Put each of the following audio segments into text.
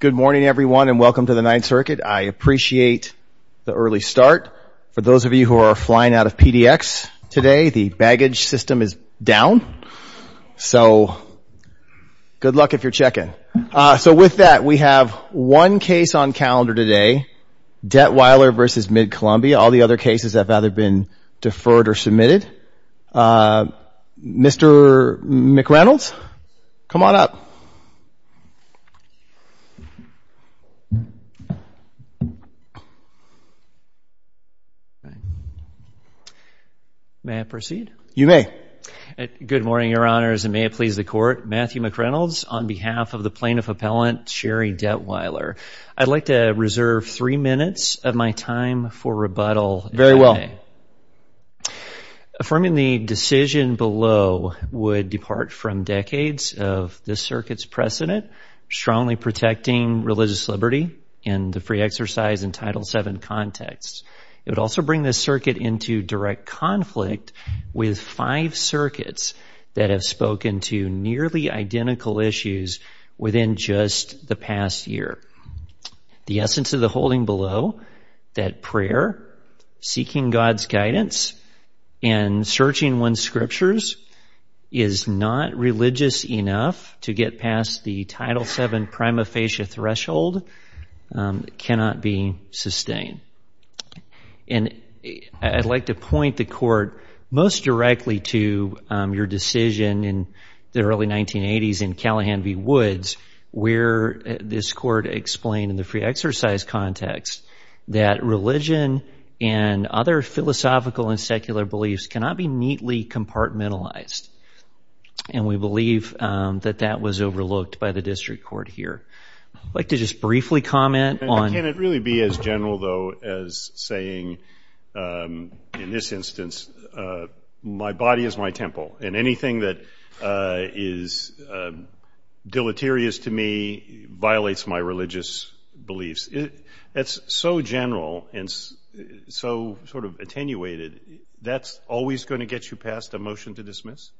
Good morning, everyone, and welcome to the Ninth Circuit. I appreciate the early start. For those of you who are flying out of PDX today, the baggage system is down, so good luck if you're checking. So with that, we have one case on calendar today, Detwiler v. Mid-Columbia. All the other cases have either been deferred or submitted. Mr. McReynolds, come on up. May I proceed? You may. Good morning, Your Honors, and may it please the Court, Matthew McReynolds on behalf of the plaintiff appellant, Sherry Detwiler. I'd like to reserve three minutes of my time for rebuttal. Very well. Affirming the decision below would depart from decades of this circuit's precedent, strongly protecting religious liberty and the free exercise in Title VII context. It would also bring this circuit into direct conflict with five circuits that have spoken to nearly identical issues within just the past year. The essence of the holding below, that prayer, seeking God's guidance, and searching one's scriptures is not religious enough to get past the Title VII prima facie threshold, cannot be sustained. And I'd like to point the Court most directly to your decision in the early 1980s in Callahan v. Woods where this Court explained in the free exercise context that religion and other philosophical and secular beliefs cannot be neatly compartmentalized. And we believe that that was overlooked by the district court here. I'd like to just briefly comment on ---- Can it really be as general, though, as saying, in this instance, my body is my temple and anything that is deleterious to me violates my religious beliefs? That's so general and so sort of attenuated, that's always going to get you past a motion to dismiss?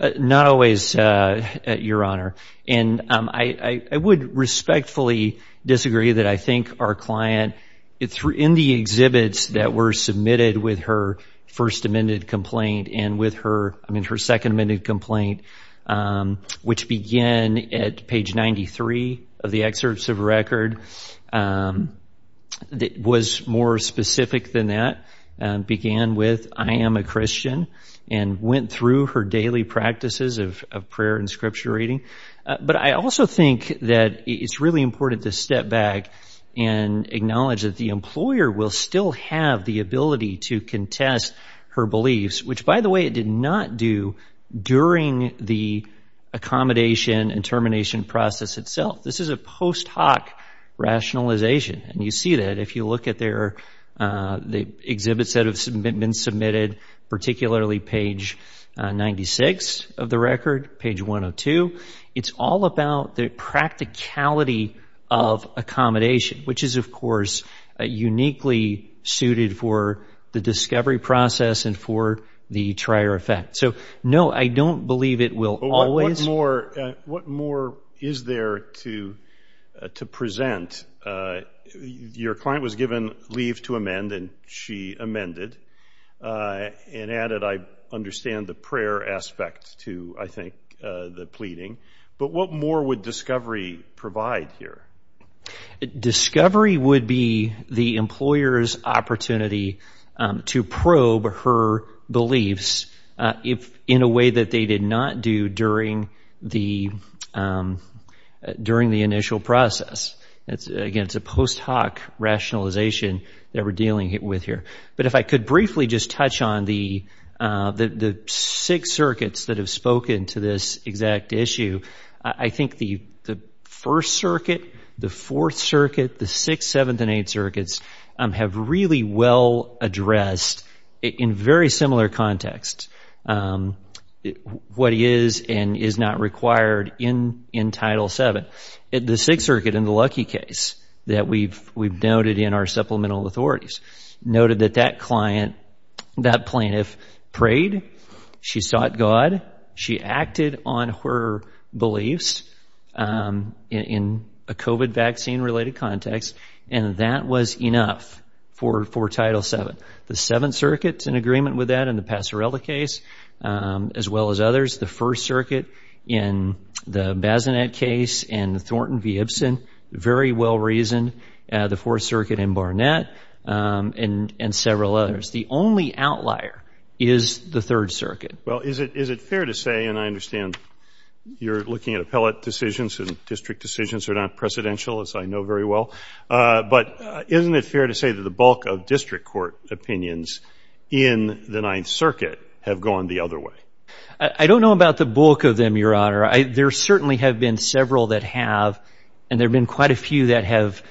Not always, Your Honor. And I would respectfully disagree that I think our client, in the exhibits that were submitted with her first amended complaint and with her second amended complaint, which began at page 93 of the excerpts of record, was more specific than that, began with, I am a Christian, and went through her daily practices of prayer and scripture reading. But I also think that it's really important to step back and acknowledge that the employer will still have the ability to contest her beliefs, which, by the way, it did not do during the accommodation and termination process itself. This is a post hoc rationalization. And you see that if you look at the exhibits that have been submitted, particularly page 96 of the record, page 102, it's all about the practicality of accommodation, which is, of course, uniquely suited for the discovery process and for the trier effect. So, no, I don't believe it will always. What more is there to present? Your client was given leave to amend, and she amended, and added, I understand, the prayer aspect to, I think, the pleading. But what more would discovery provide here? Discovery would be the employer's opportunity to probe her beliefs in a way that they did not do during the initial process. Again, it's a post hoc rationalization that we're dealing with here. But if I could briefly just touch on the six circuits that have spoken to this exact issue, I think the first circuit, the fourth circuit, the sixth, seventh, and eighth circuits have really well addressed, in very similar context, what is and is not required in Title VII. But the sixth circuit, in the Lucky case that we've noted in our supplemental authorities, noted that that client, that plaintiff, prayed, she sought God, she acted on her beliefs in a COVID vaccine-related context, and that was enough for Title VII. The seventh circuit is in agreement with that in the Passerella case, as well as others. The first circuit in the Bazinet case, in Thornton v. Ibsen, very well reasoned. The fourth circuit in Barnett, and several others. The only outlier is the third circuit. Well, is it fair to say, and I understand you're looking at appellate decisions and district decisions are not precedential, as I know very well, but isn't it fair to say that the bulk of district court opinions in the ninth circuit have gone the other way? I don't know about the bulk of them, Your Honor. There certainly have been several that have, and there have been quite a few that have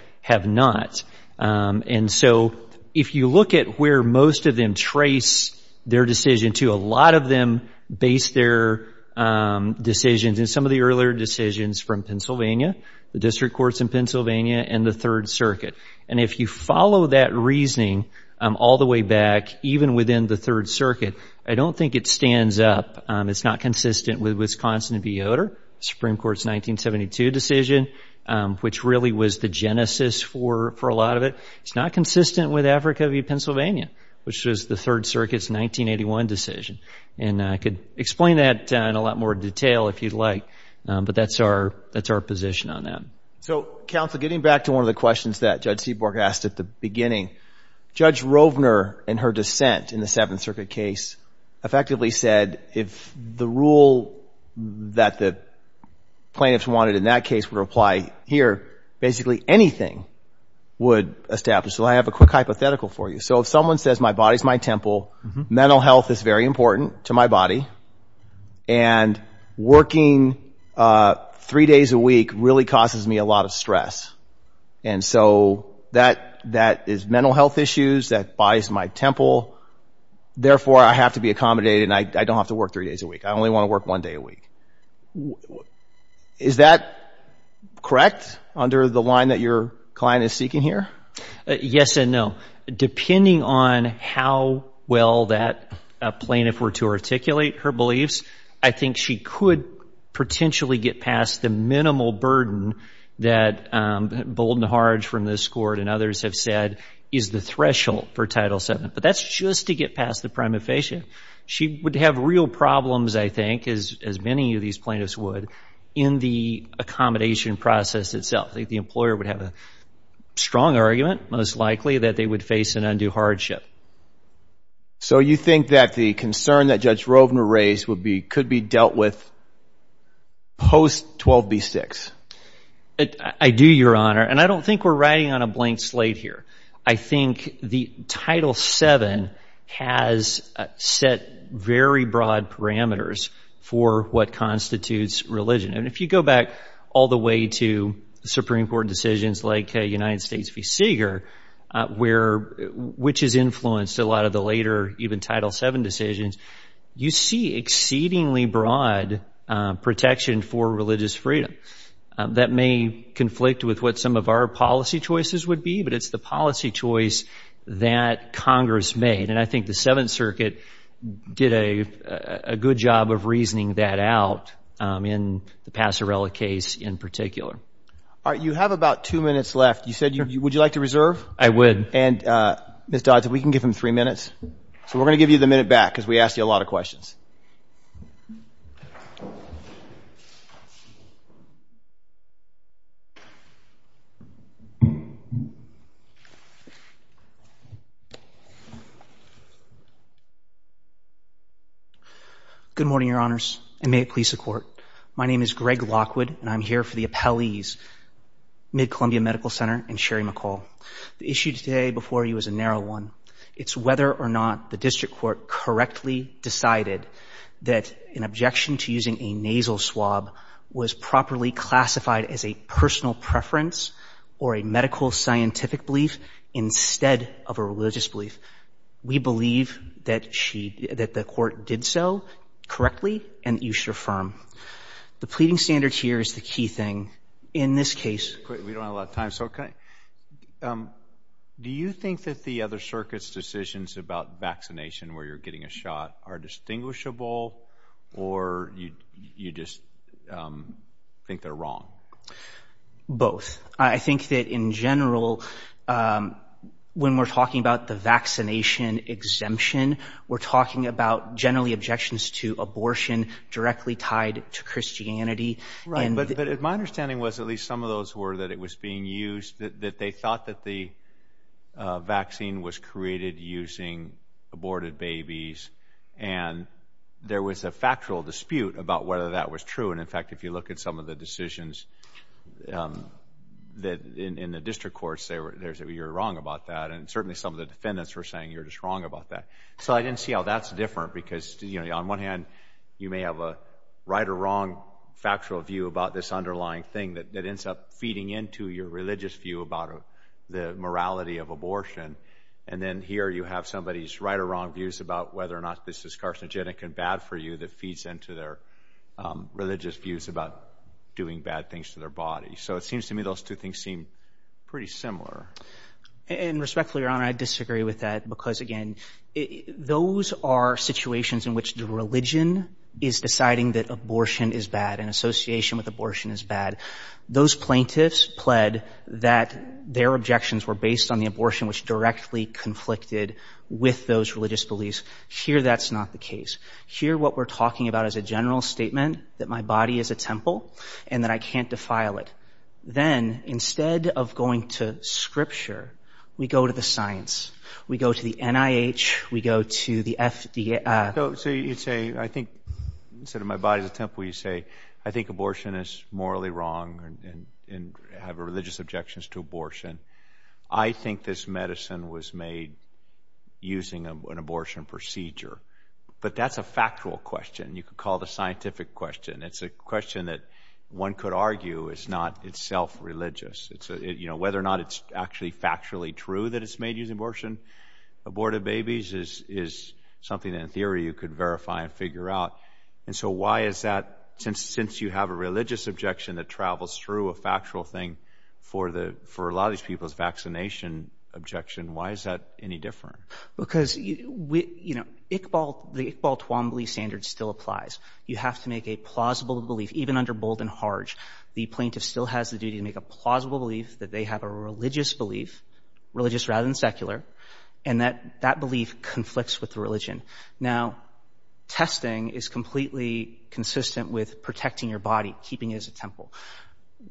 not. And so if you look at where most of them trace their decision to, a lot of them base their decisions in some of the earlier decisions from Pennsylvania, the district courts in Pennsylvania, and the third circuit. And if you follow that reasoning all the way back, even within the third circuit, I don't think it stands up. It's not consistent with Wisconsin v. Yoder, Supreme Court's 1972 decision, which really was the genesis for a lot of it. It's not consistent with Africa v. Pennsylvania, which was the Third Circuit's 1981 decision. And I could explain that in a lot more detail if you'd like, but that's our position on that. So, counsel, getting back to one of the questions that Judge Seaborg asked at the beginning, Judge Rovner, in her dissent in the Seventh Circuit case, effectively said if the rule that the plaintiffs wanted in that case would apply here, basically anything would establish. So I have a quick hypothetical for you. So if someone says my body's my temple, mental health is very important to my body, and working three days a week really causes me a lot of stress, and so that is mental health issues, that body's my temple, therefore I have to be accommodated and I don't have to work three days a week. I only want to work one day a week. Is that correct under the line that your client is seeking here? Yes and no. Depending on how well that plaintiff were to articulate her beliefs, I think she could potentially get past the minimal burden that Bolden Harge from this court and others have said is the threshold for Title VII, but that's just to get past the prima facie. She would have real problems, I think, as many of these plaintiffs would, in the accommodation process itself. I think the employer would have a strong argument, most likely, that they would face an undue hardship. So you think that the concern that Judge Rovner raised could be dealt with post 12B6? I do, Your Honor, and I don't think we're riding on a blank slate here. I think the Title VII has set very broad parameters for what constitutes religion, and if you go back all the way to Supreme Court decisions like United States v. Seeger, which has influenced a lot of the later even Title VII decisions, you see exceedingly broad protection for religious freedom. That may conflict with what some of our policy choices would be, but it's the policy choice that Congress made, and I think the Seventh Circuit did a good job of reasoning that out in the Passerella case in particular. All right, you have about two minutes left. You said you would like to reserve? I would. And, Ms. Dodds, if we can give him three minutes. So we're going to give you the minute back because we asked you a lot of questions. Good morning, Your Honors, and may it please the Court. My name is Greg Lockwood, and I'm here for the appellees, Mid-Columbia Medical Center and Sherry McCall. The issue today before you is a narrow one. It's whether or not the district court correctly decided that an objection to using a nasal swab was properly classified as a personal preference or a medical scientific belief instead of a religious belief. We believe that the court did so correctly and that you should affirm. The pleading standards here is the key thing in this case. We don't have a lot of time, so can I? Do you think that the other circuit's decisions about vaccination where you're getting a shot are distinguishable, or you just think they're wrong? Both. I think that in general, when we're talking about the vaccination exemption, we're talking about generally objections to abortion directly tied to Christianity. Right, but my understanding was at least some of those were that it was being used, that they thought that the vaccine was created using aborted babies, and there was a factual dispute about whether that was true. In fact, if you look at some of the decisions in the district courts, they say you're wrong about that. Certainly, some of the defendants were saying you're just wrong about that. I didn't see how that's different because on one hand, you may have a right or wrong factual view about this underlying thing that ends up feeding into your religious view about the morality of abortion. Then here, you have somebody's right or wrong views about whether or not this is carcinogenic and bad for you that feeds into their religious views about doing bad things to their body. So it seems to me those two things seem pretty similar. And respectfully, Your Honor, I disagree with that because, again, those are situations in which the religion is deciding that abortion is bad and association with abortion is bad. Those plaintiffs pled that their objections were based on the abortion which directly conflicted with those religious beliefs. Here, that's not the case. Here, what we're talking about is a general statement that my body is a temple and that I can't defile it. Then, instead of going to scripture, we go to the science. We go to the NIH. We go to the FDA. So you say, I think, instead of my body is a temple, you say, I think abortion is morally wrong and have religious objections to abortion. I think this medicine was made using an abortion procedure. But that's a factual question. You could call it a scientific question. It's a question that one could argue is not itself religious. Whether or not it's actually factually true that it's made using abortion, aborted babies, is something that in theory you could verify and figure out. And so why is that since you have a religious objection that travels through a factual thing for a lot of these people's vaccination objection, why is that any different? Because, you know, the Iqbal Twombly standard still applies. You have to make a plausible belief, even under Bold and Harge. The plaintiff still has the duty to make a plausible belief that they have a religious belief, religious rather than secular, and that that belief conflicts with the religion. Now, testing is completely consistent with protecting your body, keeping it as a temple.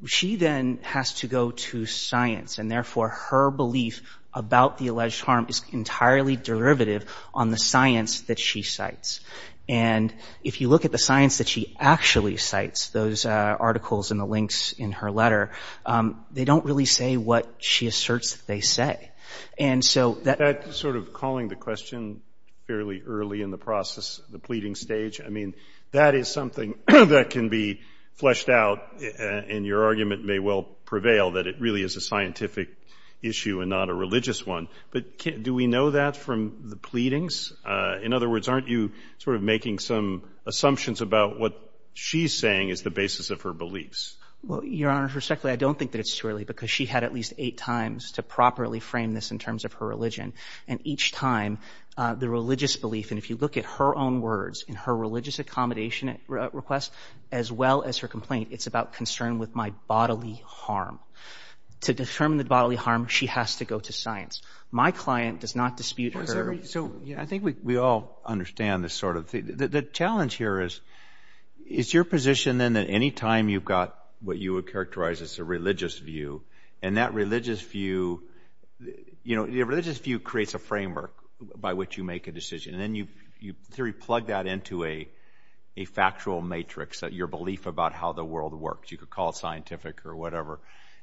She then has to go to science, and, therefore, her belief about the alleged harm is entirely derivative on the science that she cites. And if you look at the science that she actually cites, those articles and the links in her letter, they don't really say what she asserts that they say. And so that sort of calling the question fairly early in the process, the pleading stage, I mean, that is something that can be fleshed out and your argument may well prevail that it really is a scientific issue and not a religious one. But do we know that from the pleadings? In other words, aren't you sort of making some assumptions about what she's saying is the basis of her beliefs? Well, Your Honor, respectfully, I don't think that it's too early because she had at least eight times to properly frame this in terms of her religion. And each time the religious belief, and if you look at her own words in her religious accommodation request, as well as her complaint, it's about concern with my bodily harm. To determine the bodily harm, she has to go to science. My client does not dispute her. So, yeah, I think we all understand this sort of thing. The challenge here is, is your position then that any time you've got what you would characterize as a religious view and that religious view, you know, your religious view creates a framework by which you make a decision. And then you sort of plug that into a factual matrix, your belief about how the world works. You could call it scientific or whatever.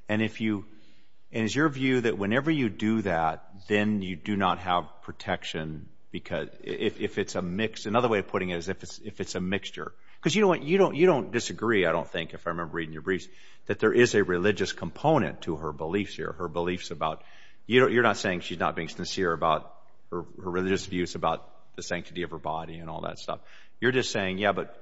And is your view that whenever you do that, then you do not have protection? Another way of putting it is if it's a mixture. Because you know what? You don't disagree, I don't think, if I remember reading your briefs, that there is a religious component to her beliefs here. You're not saying she's not being sincere about her religious views about the sanctity of her body and all that stuff. You're just saying, yeah, but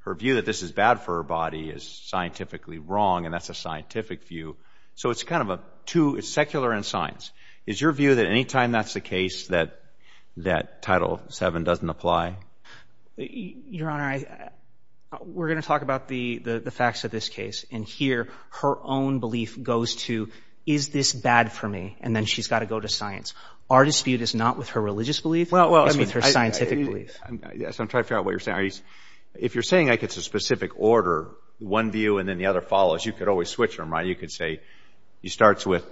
her view that this is bad for her body is scientifically wrong and that's a scientific view. So it's kind of a two, it's secular and science. Is your view that any time that's the case that Title VII doesn't apply? Your Honor, we're going to talk about the facts of this case. And here her own belief goes to, is this bad for me? And then she's got to go to science. Our dispute is not with her religious belief. It's with her scientific belief. Yes, I'm trying to figure out what you're saying. If you're saying it's a specific order, one view and then the other follows, you could always switch them, right? You could say she starts with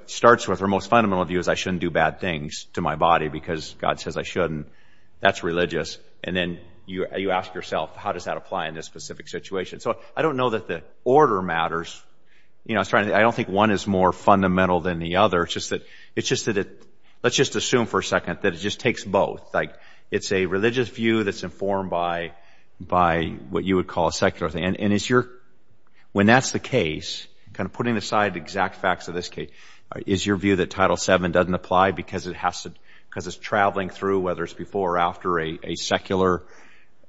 her most fundamental view is I shouldn't do bad things to my body because God says I shouldn't. That's religious. And then you ask yourself, how does that apply in this specific situation? So I don't know that the order matters. I don't think one is more fundamental than the other. It's just that let's just assume for a second that it just takes both. Like it's a religious view that's informed by what you would call a secular thing. And when that's the case, kind of putting aside the exact facts of this case, is your view that Title VII doesn't apply because it's traveling through, whether it's before or after, a secular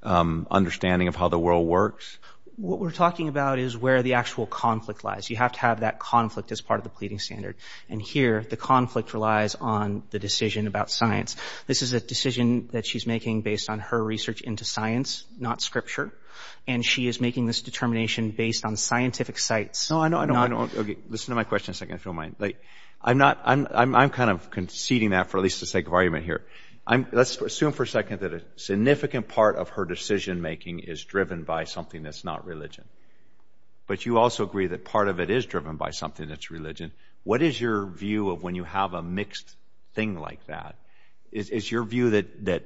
understanding of how the world works? What we're talking about is where the actual conflict lies. You have to have that conflict as part of the pleading standard. And here the conflict relies on the decision about science. This is a decision that she's making based on her research into science, not Scripture. And she is making this determination based on scientific sites. No, I know. Listen to my question a second if you don't mind. I'm kind of conceding that for at least the sake of argument here. Let's assume for a second that a significant part of her decision-making is driven by something that's not religion. But you also agree that part of it is driven by something that's religion. What is your view of when you have a mixed thing like that? Is your view that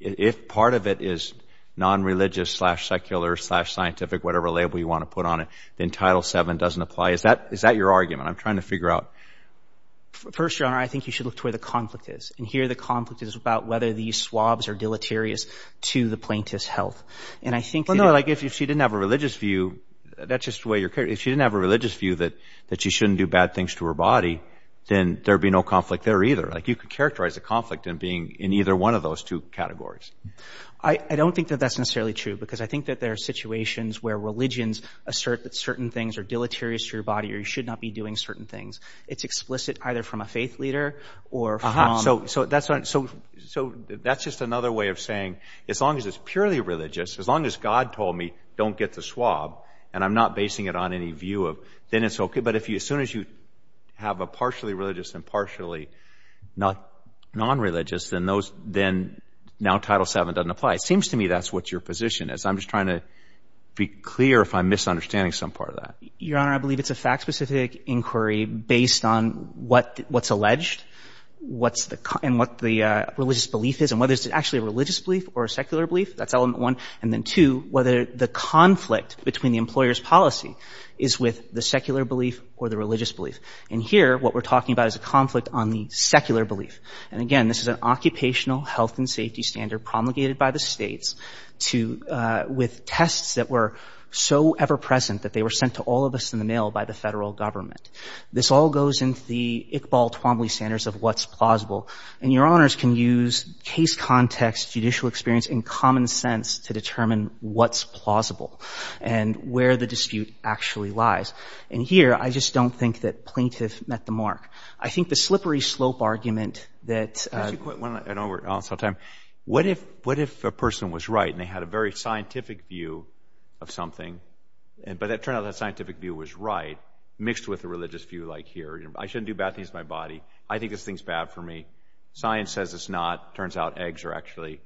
if part of it is non-religious slash secular slash scientific, whatever label you want to put on it, then Title VII doesn't apply? Is that your argument? I'm trying to figure out. First, Your Honor, I think you should look to where the conflict is. And here the conflict is about whether these swabs are deleterious to the plaintiff's health. And I think that if she didn't have a religious view, that's just the way you're carrying it. If she didn't have a religious view that she shouldn't do bad things to her body, then there would be no conflict there either. You could characterize a conflict in being in either one of those two categories. I don't think that that's necessarily true because I think that there are situations where religions assert that certain things are deleterious to your body or you should not be doing certain things. It's explicit either from a faith leader or from— So that's just another way of saying as long as it's purely religious, as long as God told me don't get the swab and I'm not basing it on any view, then it's okay. But as soon as you have a partially religious and partially nonreligious, then now Title VII doesn't apply. It seems to me that's what your position is. I'm just trying to be clear if I'm misunderstanding some part of that. Your Honor, I believe it's a fact-specific inquiry based on what's alleged and what the religious belief is and whether it's actually a religious belief or a secular belief. That's element one. And then two, whether the conflict between the employer's policy is with the secular belief or the religious belief. And here, what we're talking about is a conflict on the secular belief. And again, this is an occupational health and safety standard promulgated by the States with tests that were so ever-present that they were sent to all of us in the mail by the Federal Government. This all goes into the Iqbal-Twombly standards of what's plausible. And your Honors can use case context, judicial experience, and common sense to determine what's plausible and where the dispute actually lies. And here, I just don't think that plaintiff met the mark. I think the slippery slope argument that— Can I ask you a quick one? I know we're out of time. What if a person was right and they had a very scientific view of something, but it turned out that scientific view was right mixed with a religious view like here. I shouldn't do bad things to my body. I think this thing's bad for me. Science says it's not. It turns out eggs are actually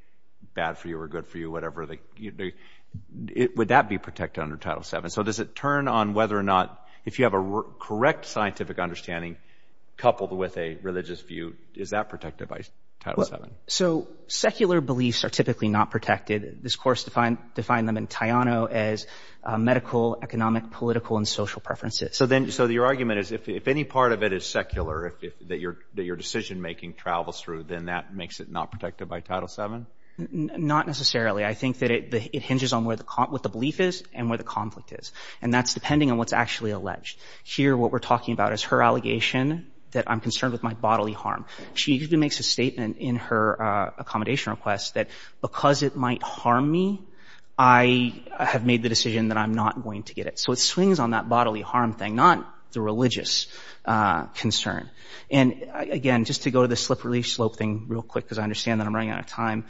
bad for you or good for you, whatever. Would that be protected under Title VII? So does it turn on whether or not, if you have a correct scientific understanding coupled with a religious view, is that protected by Title VII? So secular beliefs are typically not protected. This course defined them in Tayano as medical, economic, political, and social preferences. So your argument is if any part of it is secular that your decision-making travels through, then that makes it not protected by Title VII? Not necessarily. I think that it hinges on what the belief is and where the conflict is, and that's depending on what's actually alleged. Here, what we're talking about is her allegation that I'm concerned with my bodily harm. She even makes a statement in her accommodation request that because it might harm me, I have made the decision that I'm not going to get it. So it swings on that bodily harm thing, not the religious concern. And, again, just to go to the slippery slope thing real quick, because I understand that I'm running out of time,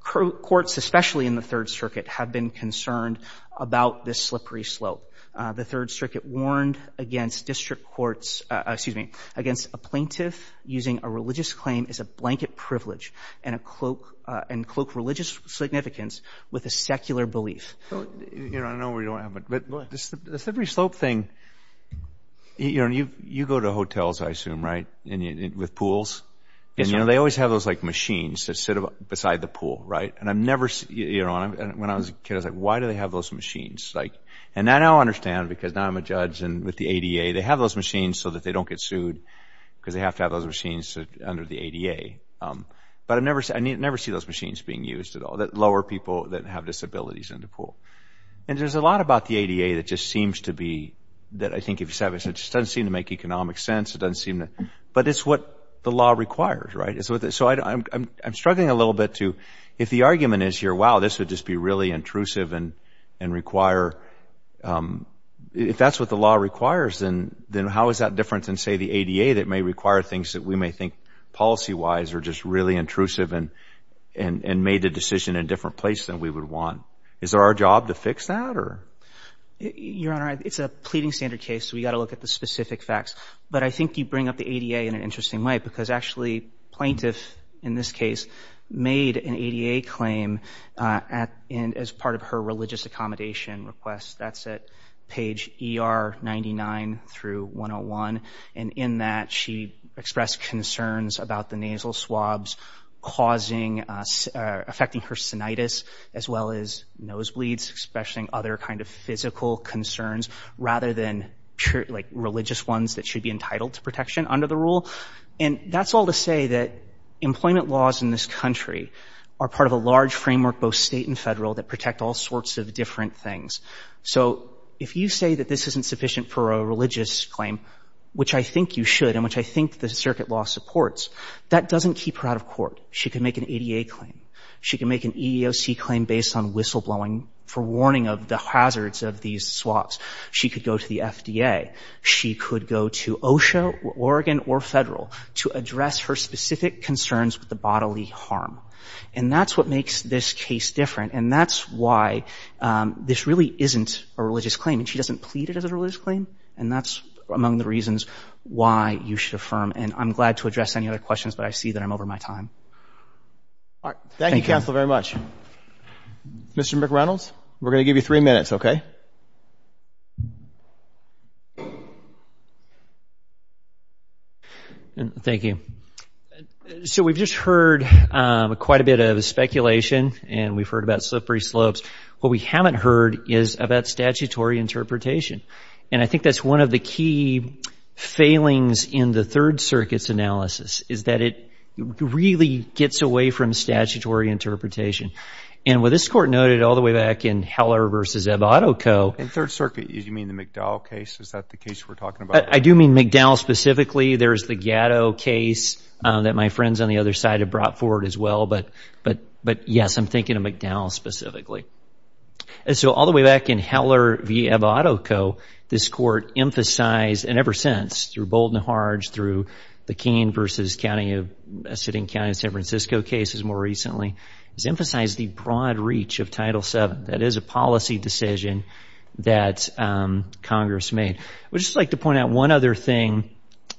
courts, especially in the Third Circuit, have been concerned about this slippery slope. The Third Circuit warned against district courts, excuse me, against a plaintiff using a religious claim as a blanket privilege and cloak religious significance with a secular belief. I know we don't have much, but the slippery slope thing, you go to hotels, I assume, right, with pools, and they always have those machines that sit beside the pool, right? When I was a kid, I was like, why do they have those machines? And I now understand because now I'm a judge, and with the ADA, they have those machines so that they don't get sued because they have to have those machines under the ADA. But I never see those machines being used at all, lower people that have disabilities in the pool. And there's a lot about the ADA that just seems to be, that I think it doesn't seem to make economic sense, but it's what the law requires, right? So I'm struggling a little bit to, if the argument is here, wow, this would just be really intrusive and require, if that's what the law requires, then how is that different than, say, the ADA that may require things that we may think policy-wise are just really intrusive and made the decision in a different place than we would want? Is it our job to fix that, or? Your Honor, it's a pleading standard case, so we've got to look at the specific facts. But I think you bring up the ADA in an interesting way because, actually, plaintiff, in this case, made an ADA claim as part of her religious accommodation request. That's at page ER 99 through 101. And in that, she expressed concerns about the nasal swabs causing, affecting her sinitis as well as nosebleeds, expressing other kind of physical concerns rather than, like, religious ones that should be entitled to protection under the rule. And that's all to say that employment laws in this country are part of a large framework, both state and federal, that protect all sorts of different things. So if you say that this isn't sufficient for a religious claim, which I think you should and which I think the circuit law supports, that doesn't keep her out of court. She can make an ADA claim. She can make an EEOC claim based on whistleblowing for warning of the hazards of these swabs. She could go to the FDA. She could go to OSHA or Oregon or federal to address her specific concerns with the bodily harm. And that's what makes this case different. And that's why this really isn't a religious claim. And she doesn't plead it as a religious claim. And that's among the reasons why you should affirm. And I'm glad to address any other questions, but I see that I'm over my time. All right. Thank you, counsel, very much. Mr. McReynolds, we're going to give you three minutes, okay? Thank you. So we've just heard quite a bit of speculation, and we've heard about slippery slopes. What we haven't heard is about statutory interpretation. And I think that's one of the key failings in the Third Circuit's analysis is that it really gets away from statutory interpretation. And what this Court noted all the way back in Heller v. Ebb Auto Co. And Third Circuit, you mean the McDowell case? Is that the case we're talking about? I do mean McDowell specifically. There's the Gatto case that my friends on the other side have brought forward as well. But, yes, I'm thinking of McDowell specifically. And so all the way back in Heller v. Ebb Auto Co., this Court emphasized, and ever since through Bold and Harge, through the Keene v. Sitting County of San Francisco cases more recently, has emphasized the broad reach of Title VII. That is a policy decision that Congress made. I would just like to point out one other thing,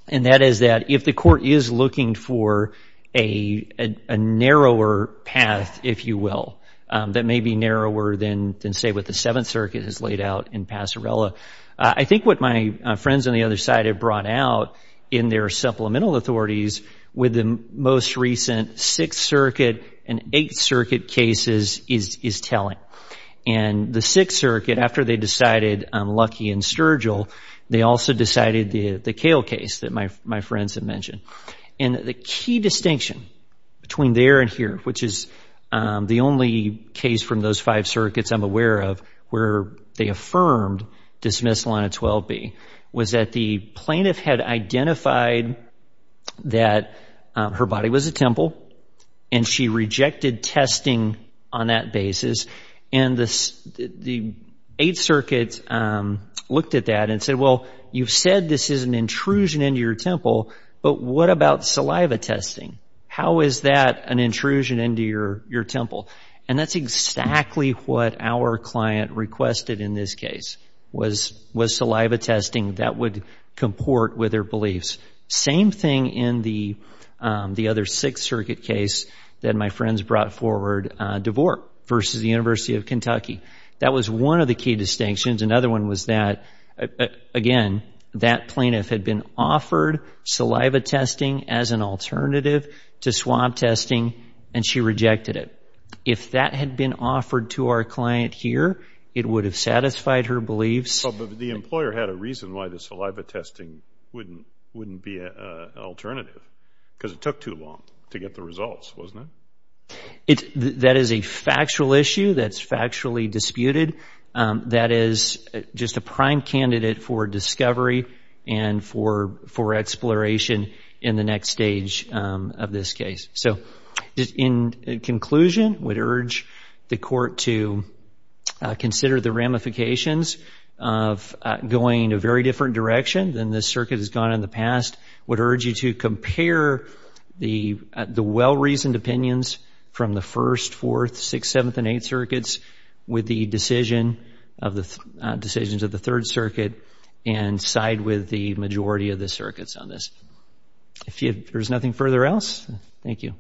and that is that if the Court is looking for a narrower path, if you will, that may be narrower than, say, what the Seventh Circuit has laid out in Passarella, I think what my friends on the other side have brought out in their supplemental authorities with the most recent Sixth Circuit and Eighth Circuit cases is telling. And the Sixth Circuit, after they decided Lucky and Sturgill, they also decided the Kale case that my friends have mentioned. And the key distinction between there and here, which is the only case from those five circuits I'm aware of where they affirmed dismissal on a 12B, was that the plaintiff had identified that her body was at Temple and she rejected testing on that basis. And the Eighth Circuit looked at that and said, well, you've said this is an intrusion into your Temple, but what about saliva testing? How is that an intrusion into your Temple? And that's exactly what our client requested in this case, was saliva testing that would comport with their beliefs. Same thing in the other Sixth Circuit case that my friends brought forward, DeVore versus the University of Kentucky. That was one of the key distinctions. Another one was that, again, that plaintiff had been offered saliva testing as an alternative to swab testing, and she rejected it. If that had been offered to our client here, it would have satisfied her beliefs. But the employer had a reason why the saliva testing wouldn't be an alternative, because it took too long to get the results, wasn't it? That is a factual issue that's factually disputed. That is just a prime candidate for discovery and for exploration in the next stage of this case. In conclusion, I would urge the Court to consider the ramifications of going a very different direction than this Circuit has gone in the past. I would urge you to compare the well-reasoned opinions from the First, Fourth, Sixth, Seventh, and Eighth Circuits with the decisions of the Third Circuit and side with the majority of the Circuits on this. If there's nothing further else, thank you.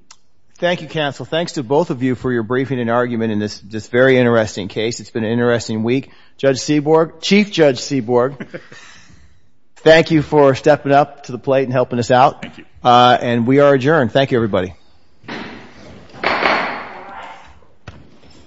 Thank you, Counsel. Thanks to both of you for your briefing and argument in this very interesting case. It's been an interesting week. Judge Seaborg, Chief Judge Seaborg, thank you for stepping up to the plate and helping us out. Thank you. And we are adjourned. Thank you, everybody.